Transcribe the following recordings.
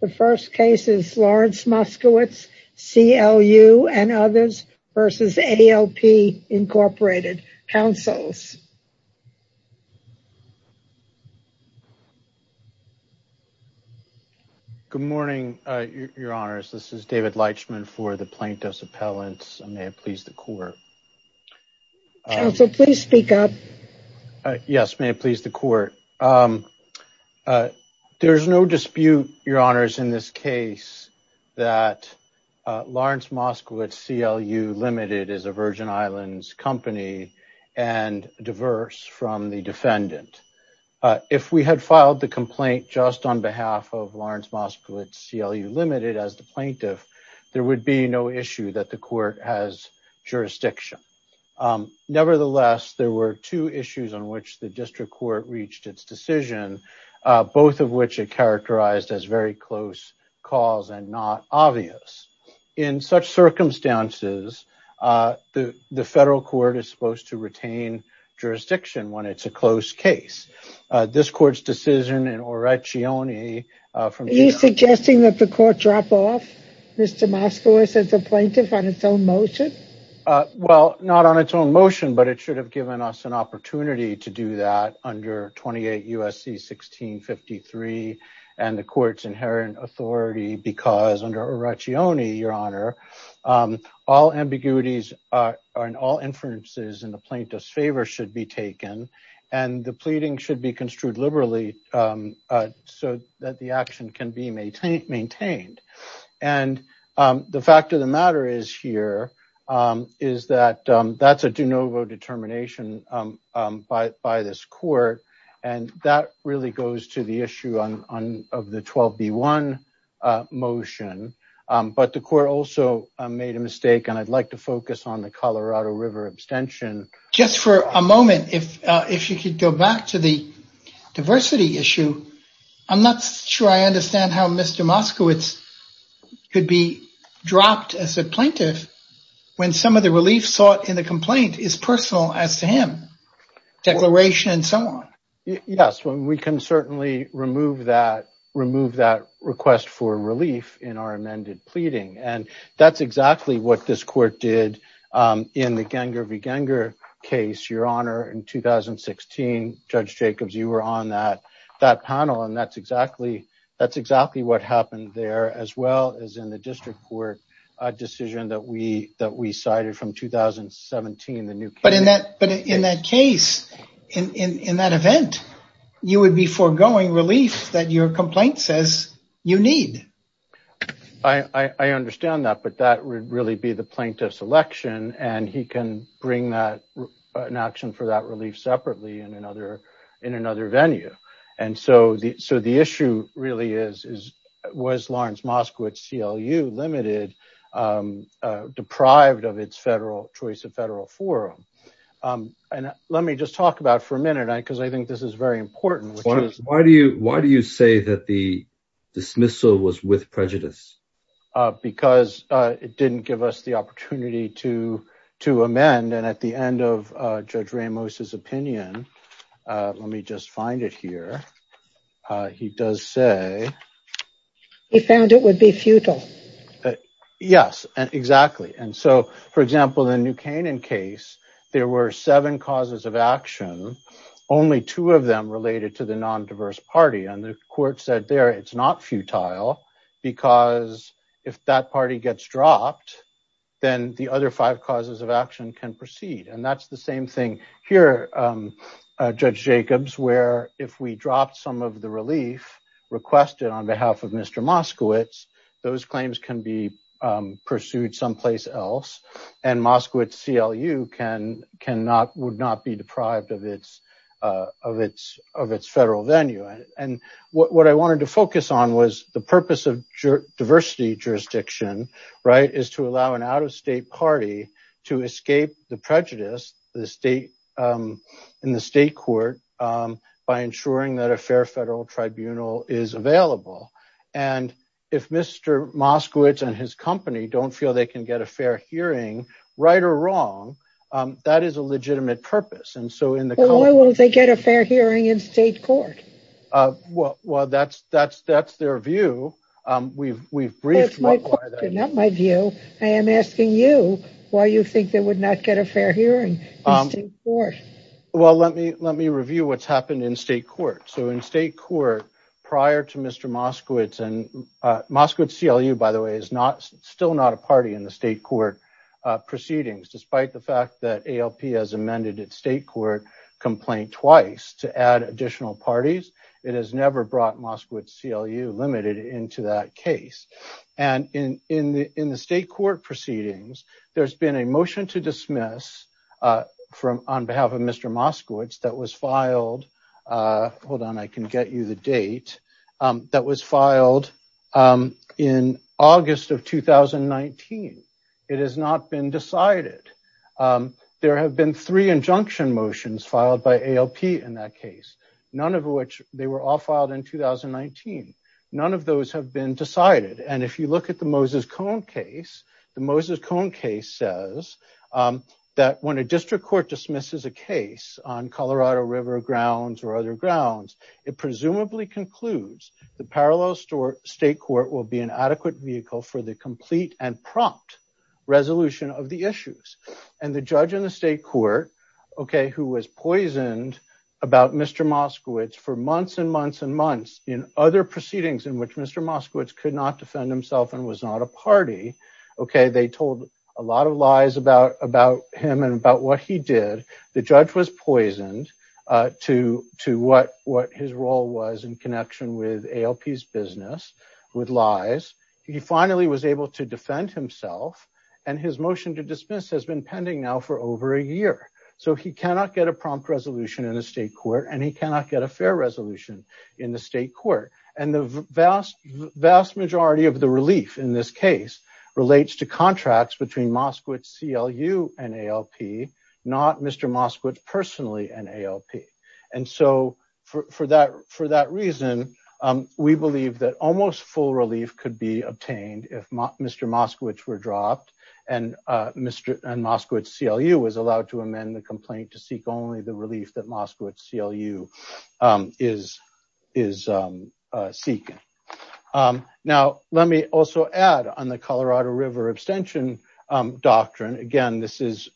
The first case is Lawrence Moskowitz CLU and others v. Alp, Inc. Counsels. Good morning, Your Honors. This is David Leitchman for the Plaintiffs' Appellants. May it please the court. Counsel, please speak up. Yes, may it please the court. Um, uh, there's no dispute, Your Honors, in this case that, uh, Lawrence Moskowitz CLU Ltd. is a Virgin Islands company and diverse from the defendant. Uh, if we had filed the complaint just on behalf of Lawrence Moskowitz CLU Ltd. as the plaintiff, there would be no issue that the court has jurisdiction. Um, nevertheless, there were two issues on which the district court reached its decision, uh, both of which are characterized as very close calls and not obvious. In such circumstances, uh, the, the federal court is supposed to retain jurisdiction when it's a close case. Uh, this court's decision in Orecchione, uh, from- Are you suggesting that the court drop off Mr. Moskowitz as a plaintiff on its own motion? Uh, well, not on its own motion, but it should have given us an opportunity to do that under 28 USC 1653 and the court's inherent authority because under Orecchione, Your Honor, um, all ambiguities, uh, and all inferences in the plaintiff's favor should be taken and the pleading should be construed liberally, um, uh, so that the action can be maintained, maintained. And, um, the fact of the matter is here, um, is that, um, that's a de novo determination, um, um, by, by this court. And that really goes to the issue on, on, of the 12B1, uh, motion. Um, but the court also made a mistake and I'd like to focus on the Colorado River abstention. Just for a moment, if, uh, if you could go back to the diversity issue, I'm not sure I understand how Mr. Moskowitz could be dropped as a plaintiff when some of the relief sought in the complaint is personal as to him, declaration and so on. Yes, we can certainly remove that, remove that request for relief in our amended pleading. And that's exactly what this court did, um, in the Genger v. Genger case, Your Honor, in 2016, Judge Jacobs, you were on that, that panel. And that's exactly, that's exactly what happened there as well as in the district court, a decision that we, that we cited from 2017, the new case. But in that, but in that case, in, in, in that event, you would be forgoing relief that your complaint says you need. I, I, I understand that, but that would really be the plaintiff's election and he can bring that, an action for that relief separately in another, in another so the issue really is, is, was Lawrence Moskowitz CLU limited, um, uh, deprived of its federal choice of federal forum. Um, and let me just talk about for a minute, I, cause I think this is very important, which is why do you, why do you say that the dismissal was with prejudice? Uh, because, uh, it didn't give us the opportunity to, to amend. And at the end of, uh, Judge Ramos's opinion, uh, let me just find it here. Uh, he does say he found it would be futile. Yes, exactly. And so for example, the new Canaan case, there were seven causes of action. Only two of them related to the non-diverse party. And the court said there, it's not futile because if that party gets dropped, then the other five causes of action can proceed. And that's the same thing here. Um, uh, Judge Jacobs, where if we dropped some of the relief requested on behalf of Mr. Moskowitz, those claims can be, um, pursued someplace else and Moskowitz CLU can, can not, would not be deprived of its, uh, of its, of its federal venue. And, and what I wanted to focus on was the purpose of diversity jurisdiction, right, is to allow an out-of-state party to escape the prejudice, the state, um, in the state court, um, by ensuring that a fair federal tribunal is available. And if Mr. Moskowitz and his company don't feel they can get a fair hearing right or wrong, um, that is a legitimate purpose. And so in the court, well, that's, that's, that's their view. Um, we've, we've briefed my view. I am asking you why you think that would not get a fair hearing. Well, let me, let me review what's happened in state court. So in state court prior to Mr. Moskowitz and, uh, Moskowitz CLU, by the way, is not still not a party in the state court proceedings, despite the fact that ALP has amended its state court complaint twice to add additional parties. It has never brought Moskowitz CLU limited into that case. And in, in the, in the state court proceedings, there's been a motion to dismiss, uh, from on behalf of Mr. Moskowitz that was filed, uh, hold on. I can get you the date, um, that was filed, um, in August of 2019. It has not been decided. Um, there have been three injunction motions filed by ALP in that case, none of which they were all filed in 2019. None of those have been decided. And if you look at the Moses cone case, the Moses cone case says, um, that when a district court dismisses a case on Colorado river grounds or other grounds, it presumably concludes the parallel store state court will be an adequate vehicle for the complete and prompt resolution of the issues and the judge in the state court, okay. Who was poisoned about Mr. Moskowitz for months and months and months in other proceedings in which Mr. Moskowitz could not defend himself and was not a party. Okay. They told a lot of lies about, about him and about what he did. The judge was poisoned, uh, to, to what, what his role was in connection with ALP's business with lies. He finally was able to defend himself and his motion to dismiss has been pending now for over a year. So he cannot get a prompt resolution in a state court and he cannot get a fair resolution in the state court. And the vast, vast majority of the relief in this case relates to contracts between Moskowitz CLU and ALP, not Mr. Moskowitz personally and ALP. And so for, for that, for that reason, um, we believe that almost full relief could be obtained if Mr. Moskowitz were dropped and, uh, Mr. and Moskowitz CLU was allowed to amend the complaint to seek only the relief that Moskowitz CLU, um, is, is, um, uh, seeking. Um, now let me also add on the Colorado river abstention, um, doctrine. Again, this is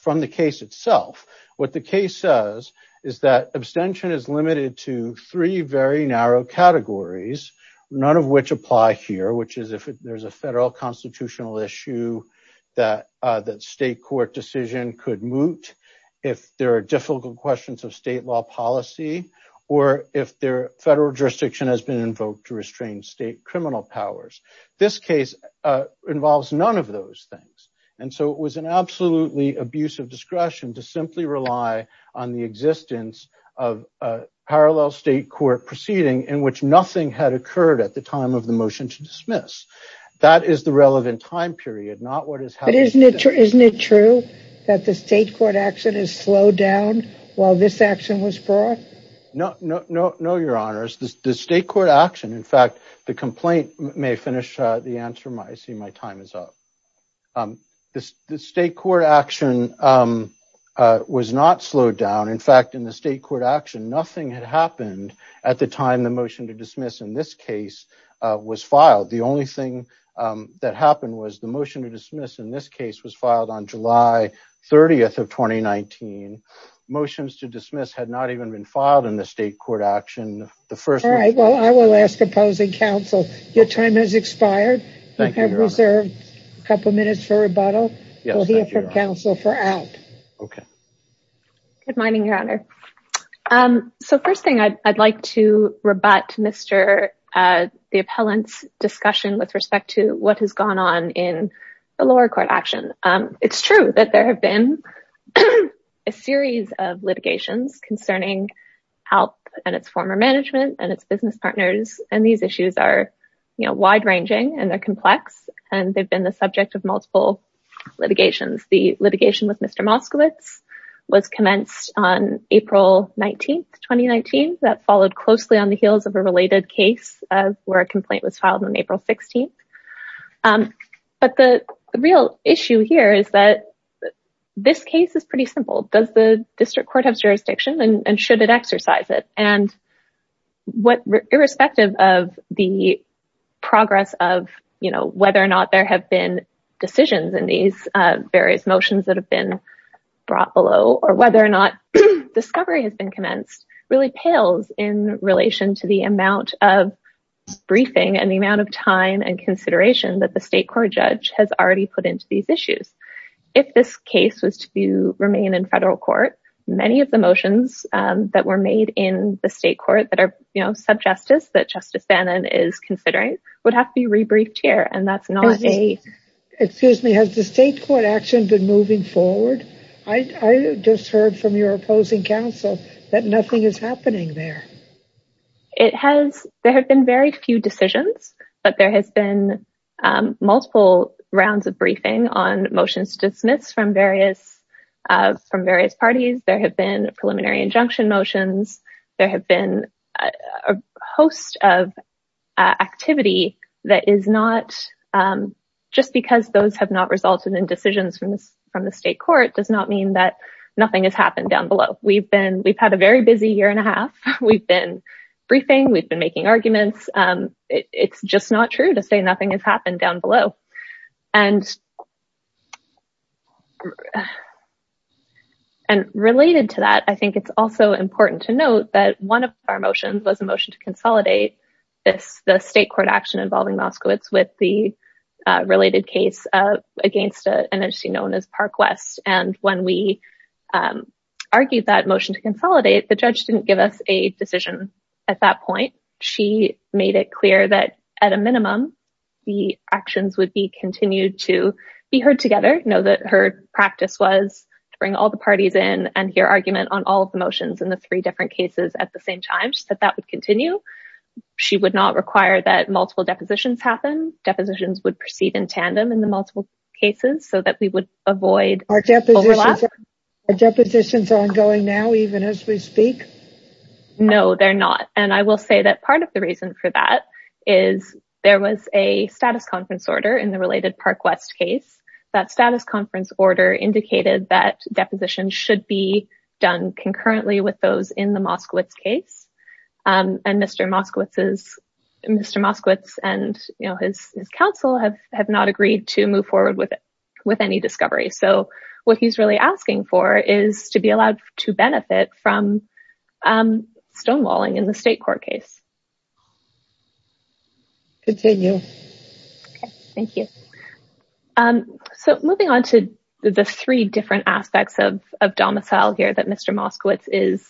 from the case itself. What the case says is that abstention is limited to three very narrow categories, none of which apply here, which is if there's a federal constitutional issue that, uh, that state court decision could moot if there are difficult questions of state law policy, or if their federal jurisdiction has been invoked to restrain state criminal powers. This case, uh, involves none of those things. And so it was an absolutely abusive discretion to simply rely on the time of the motion to dismiss. That is the relevant time period, not what is happening. Isn't it true, isn't it true that the state court action is slowed down while this action was brought? No, no, no, no. Your honors, the state court action. In fact, the complaint may finish the answer. My, I see my time is up. Um, this, this state court action, um, uh, was not slowed down. In fact, in the state court action, nothing had happened at the time the motion to dismiss in this case, uh, was filed. The only thing that happened was the motion to dismiss in this case was filed on July 30th of 2019 motions to dismiss had not even been filed in the state court action. The first, right. Well, I will ask opposing counsel. Your time has expired. You have reserved a couple of minutes for rebuttal. We'll hear from counsel for out. Okay. Good morning, your honor. Um, so first thing I'd, I'd like to rebut Mr. Uh, the appellant's discussion with respect to what has gone on in the lower court action. Um, it's true that there have been. A series of litigations concerning health and its former management and its business partners. And these issues are, you know, wide ranging and they're complex and they've been the subject of multiple litigations. The litigation with Mr. Moskowitz was commenced on April 19th, 2019. That followed closely on the heels of a related case of where a complaint was filed on April 16th. Um, but the real issue here is that this case is pretty simple. Does the district court have jurisdiction and should it exercise it? And what irrespective of the progress of, you know, whether or not there have been decisions in these, uh, various motions that have been brought below or whether or not discovery has been commenced really pales in relation to the amount of briefing and the amount of time and consideration that the state court judge has already put into these issues. If this case was to be remain in federal court, many of the motions, um, that were made in the state court that are, you know, sub justice that justice Bannon is considering would have to be rebriefed here. And that's not a, excuse me. Has the state court action been moving forward? I just heard from your opposing counsel that nothing is happening there. It has, there have been very few decisions, but there has been, um, multiple rounds of briefing on motions to dismiss from various, uh, from various parties. There have been preliminary injunction motions. There have been a host of activity that is not, um, just because those have not resulted in decisions from the, from the state court does not mean that nothing has happened down below. We've been, we've had a very busy year and a half. We've been briefing, we've been making arguments. Um, it's just not true to say nothing has happened down below. And related to that, I think it's also important to note that one of our motions was a motion to consolidate this, the state court action involving Moskowitz with the related case, uh, against an NRC known as Park West. And when we, um, argued that motion to consolidate, the judge didn't give us a decision at that point. She made it clear that at a minimum, the actions would be continued to be heard together. Know that her practice was to bring all the parties in and hear argument on all of the motions in the three different cases at the same time, that that would continue, she would not require that multiple depositions happen, depositions would proceed in tandem in the multiple cases so that we would avoid overlap. Are depositions ongoing now, even as we speak? No, they're not. And I will say that part of the reason for that is there was a status conference order in the related Park West case. That status conference order indicated that depositions should be done concurrently with those in the Moskowitz case. Um, and Mr. Moskowitz is, Mr. Moskowitz and, you know, his, his counsel have, have not agreed to move forward with it, with any discovery. So what he's really asking for is to be allowed to benefit from, um, stonewalling in the state court case. Continue. Okay. Thank you. Um, so moving on to the three different aspects of, of domicile here that Mr. Moskowitz is,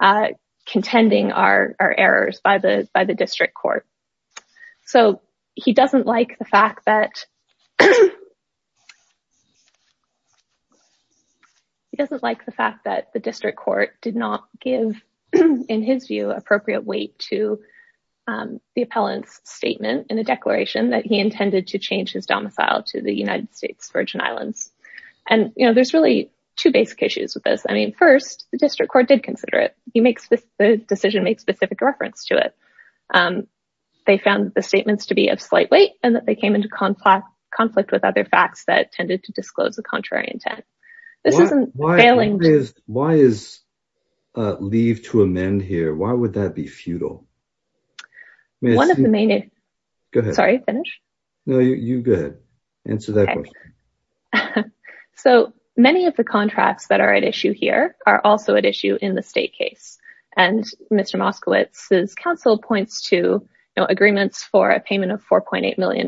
uh, contending are, are errors by the, by the district court. So he doesn't like the fact that he doesn't like the fact that the district court did not give in his view, appropriate weight to, um, the appellant's statement in a declaration that he intended to change his domicile to the United States Virgin islands. And, you know, there's really two basic issues with this. I mean, first the district court did consider it. He makes the decision, make specific reference to it. Um, they found the statements to be of slight weight and that they came into conflict, conflict with other facts that tended to disclose the contrary intent. This isn't failing. Why is, uh, leave to amend here? Why would that be futile? One of the main, sorry, finish. No, you go ahead. Answer that question. So many of the contracts that are at issue here are also at issue in the state case. And Mr. Moskowitz's counsel points to no agreements for a payment of $4.8 million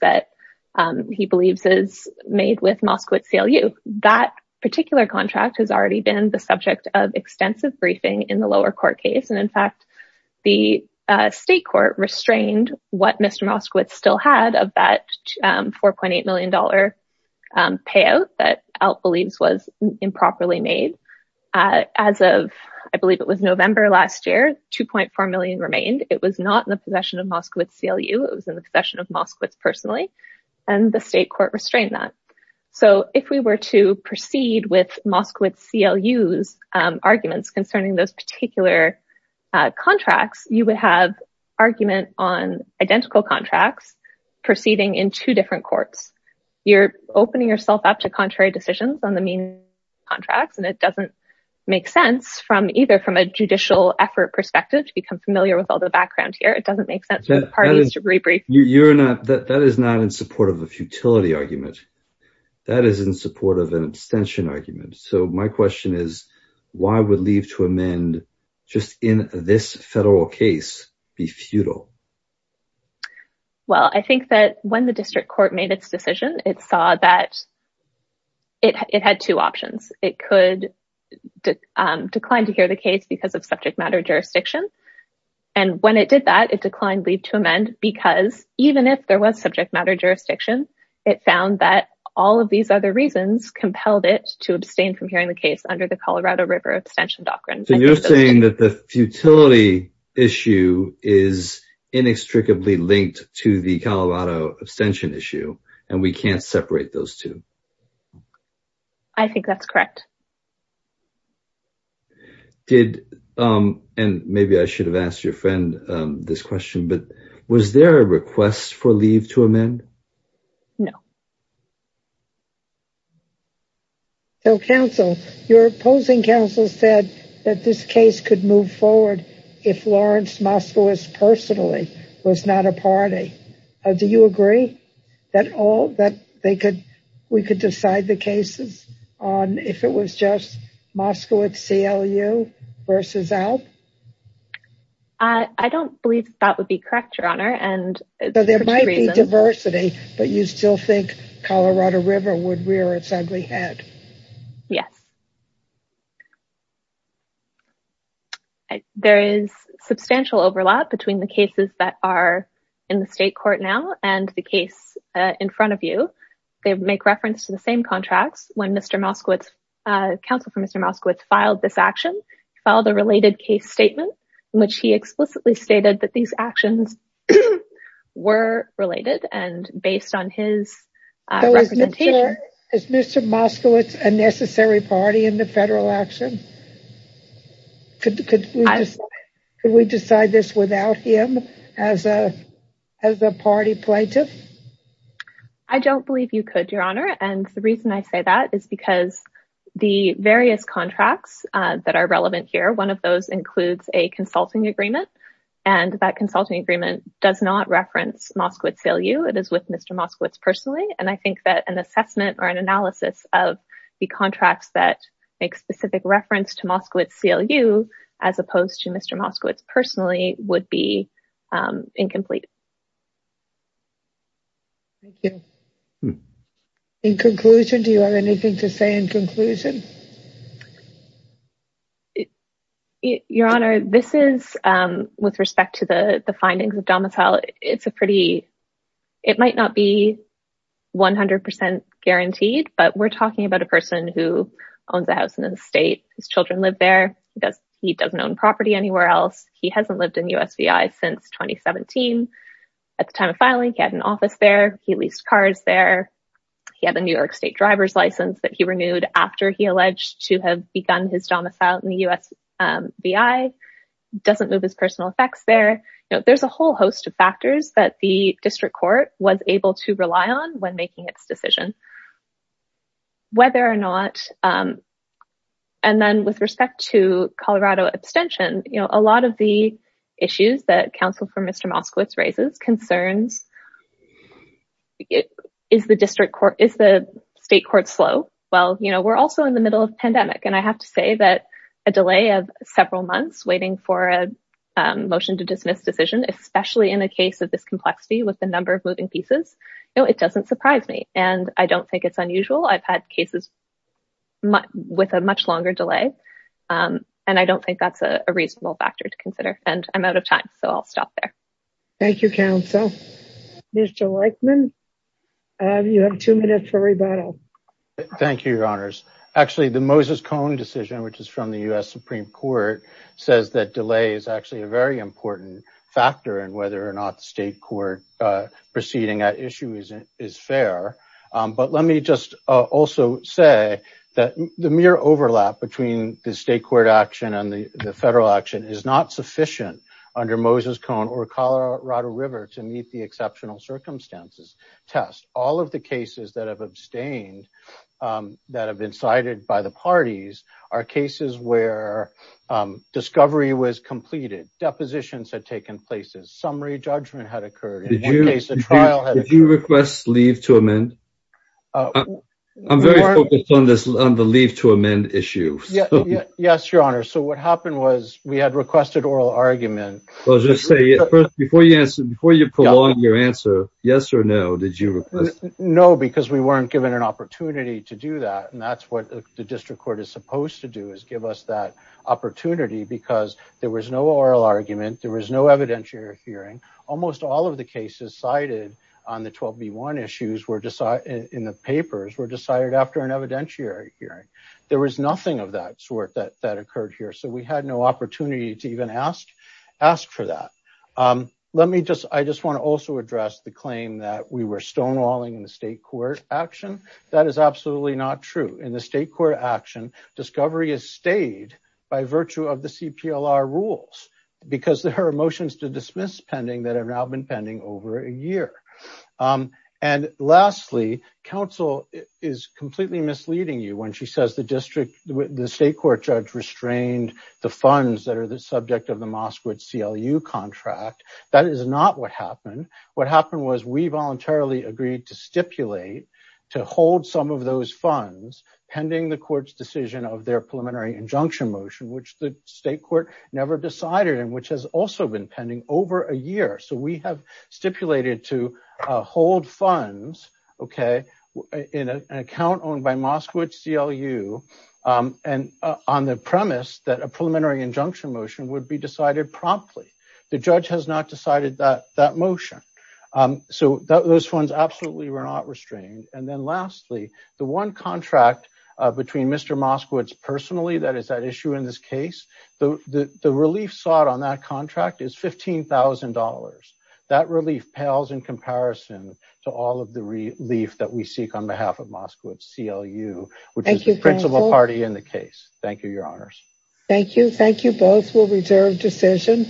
that, um, he believes is made with Moskowitz CLU. That particular contract has already been the subject of extensive briefing in the lower court case. And in fact, the, uh, state court restrained what Mr. Moskowitz still had of that, um, $4.8 million, um, payout that out believes was improperly made. Uh, as of, I believe it was November last year, 2.4 million remained. It was not in the possession of Moskowitz CLU. It was in the possession of Moskowitz personally, and the state court restrained that. So if we were to proceed with Moskowitz CLU's, um, arguments concerning those particular, uh, contracts, you would have argument on identical contracts proceeding in two different courts, you're opening yourself up to contrary decisions on the mean contracts. And it doesn't make sense from either, from a judicial effort perspective to become familiar with all the background here, it doesn't make sense for the parties to rebrief. You're not, that is not in support of a futility argument. That is in support of an abstention argument. So my question is why would leave to amend just in this federal case be futile? Well, I think that when the district court made its decision, it saw that it had two options. It could decline to hear the case because of subject matter jurisdiction. And when it did that, it declined leave to amend because even if there was subject matter jurisdiction, it found that all of these other reasons compelled it to abstain from hearing the case under the Colorado River abstention doctrine. So you're saying that the futility issue is inextricably linked to the Colorado abstention issue and we can't separate those two? I think that's correct. Did, um, and maybe I should have asked your friend, um, this question, but was there a request for leave to amend? No. So counsel, your opposing counsel said that this case could move forward if Lawrence Moskowitz personally was not a party, do you agree that all, that they could, we could decide the cases on if it was just Moskowitz CLU versus Alp? I don't believe that would be correct, your honor. And there might be diversity, but you still think Colorado River would rear its ugly head. Yes. There is substantial overlap between the cases that are in the state court now and the case in front of you. They make reference to the same contracts when Mr. Moskowitz, uh, counsel for Mr. Moskowitz filed this action, filed a related case statement in which he explicitly stated that these actions were related and based on his, uh, Is Mr. Moskowitz a necessary party in the federal action? Could, could we decide this without him as a, as a party plaintiff? I don't believe you could, your honor. And the reason I say that is because the various contracts that are relevant here, one of those includes a consulting agreement and that consulting agreement does not reference Moskowitz CLU. It is with Mr. Moskowitz personally. And I think that an assessment or an analysis of the contracts that make specific reference to Moskowitz CLU, as opposed to Mr. Moskowitz personally would be incomplete. In conclusion, do you have anything to say in conclusion? Your honor, this is, um, with respect to the findings of domicile, it's a pretty, it might not be 100% guaranteed, but we're talking about a person who owns a house in the state. His children live there because he doesn't own property anywhere else. He hasn't lived in USVI since 2017. At the time of filing, he had an office there. He leased cars there. He had a New York state driver's license that he renewed after he alleged to have begun his domicile in the USVI. Doesn't move his personal effects there. You know, there's a whole host of factors that the district court was able to rely on when making its decision. Whether or not, um, and then with respect to Colorado abstention, you know, a lot of the issues that counsel for Mr. Moskowitz raises concerns is the district court, is the state court slow? Well, you know, we're also in the middle of pandemic and I have to say that a delay of several months waiting for a motion to dismiss decision, especially in a case of this complexity with the number of moving pieces, no, it doesn't surprise me. And I don't think it's unusual. I've had cases with a much longer delay. Um, and I don't think that's a reasonable factor to consider and I'm out of time, so I'll stop there. Thank you, counsel. Mr. Weichmann, you have two minutes for rebuttal. Thank you, your honors. Actually the Moses Cone decision, which is from the U S Supreme court says that delay is actually a very important factor in whether or not the state court, uh, proceeding at issue is, is fair. Um, but let me just also say that the mere overlap between the state court action and the federal action is not sufficient under Moses Cone or Colorado river to meet the exceptional circumstances test. All of the cases that have abstained, um, that have been cited by the parties are cases where, um, discovery was completed, depositions had taken places, summary judgment had occurred. In one case, the trial had been requested leave to amend. Uh, I'm very focused on this, on the leave to amend issue. Yes, your honor. So what happened was we had requested oral argument. Well, just say before you answer, before you prolong your answer, yes or no, did you know? Because we weren't given an opportunity to do that. And that's what the district court is supposed to do is give us that opportunity because there was no oral argument. There was no evidentiary hearing. Almost all of the cases cited on the 12B1 issues were decided in the papers were decided after an evidentiary hearing. There was nothing of that sort that, that occurred here. So we had no opportunity to even ask, ask for that. Um, let me just, I just want to also address the claim that we were stonewalling in the state court action that is absolutely not true in the state court action, discovery is stayed by virtue of the CPLR rules because there are motions to dismiss pending that have now been pending over a year. Um, and lastly, counsel is completely misleading you when she says the state court judge restrained the funds that are the subject of the Moskowitz CLU contract, that is not what happened. What happened was we voluntarily agreed to stipulate to hold some of those funds pending the court's decision of their preliminary injunction motion, which the state court never decided in, which has also been pending over a year. So we have stipulated to hold funds. Okay. In an account owned by Moskowitz CLU. Um, and, uh, on the premise that a preliminary injunction motion would be decided promptly. The judge has not decided that that motion. Um, so those funds absolutely were not restrained. And then lastly, the one contract, uh, between Mr. Moskowitz personally, that is that issue in this case, the, the, the relief sought on that contract is $15,000. That relief pales in comparison to all of the relief that we seek on behalf of Moskowitz CLU, which is the principle party in the case. Thank you. Your honors. Thank you. Thank you. Both will reserve decision.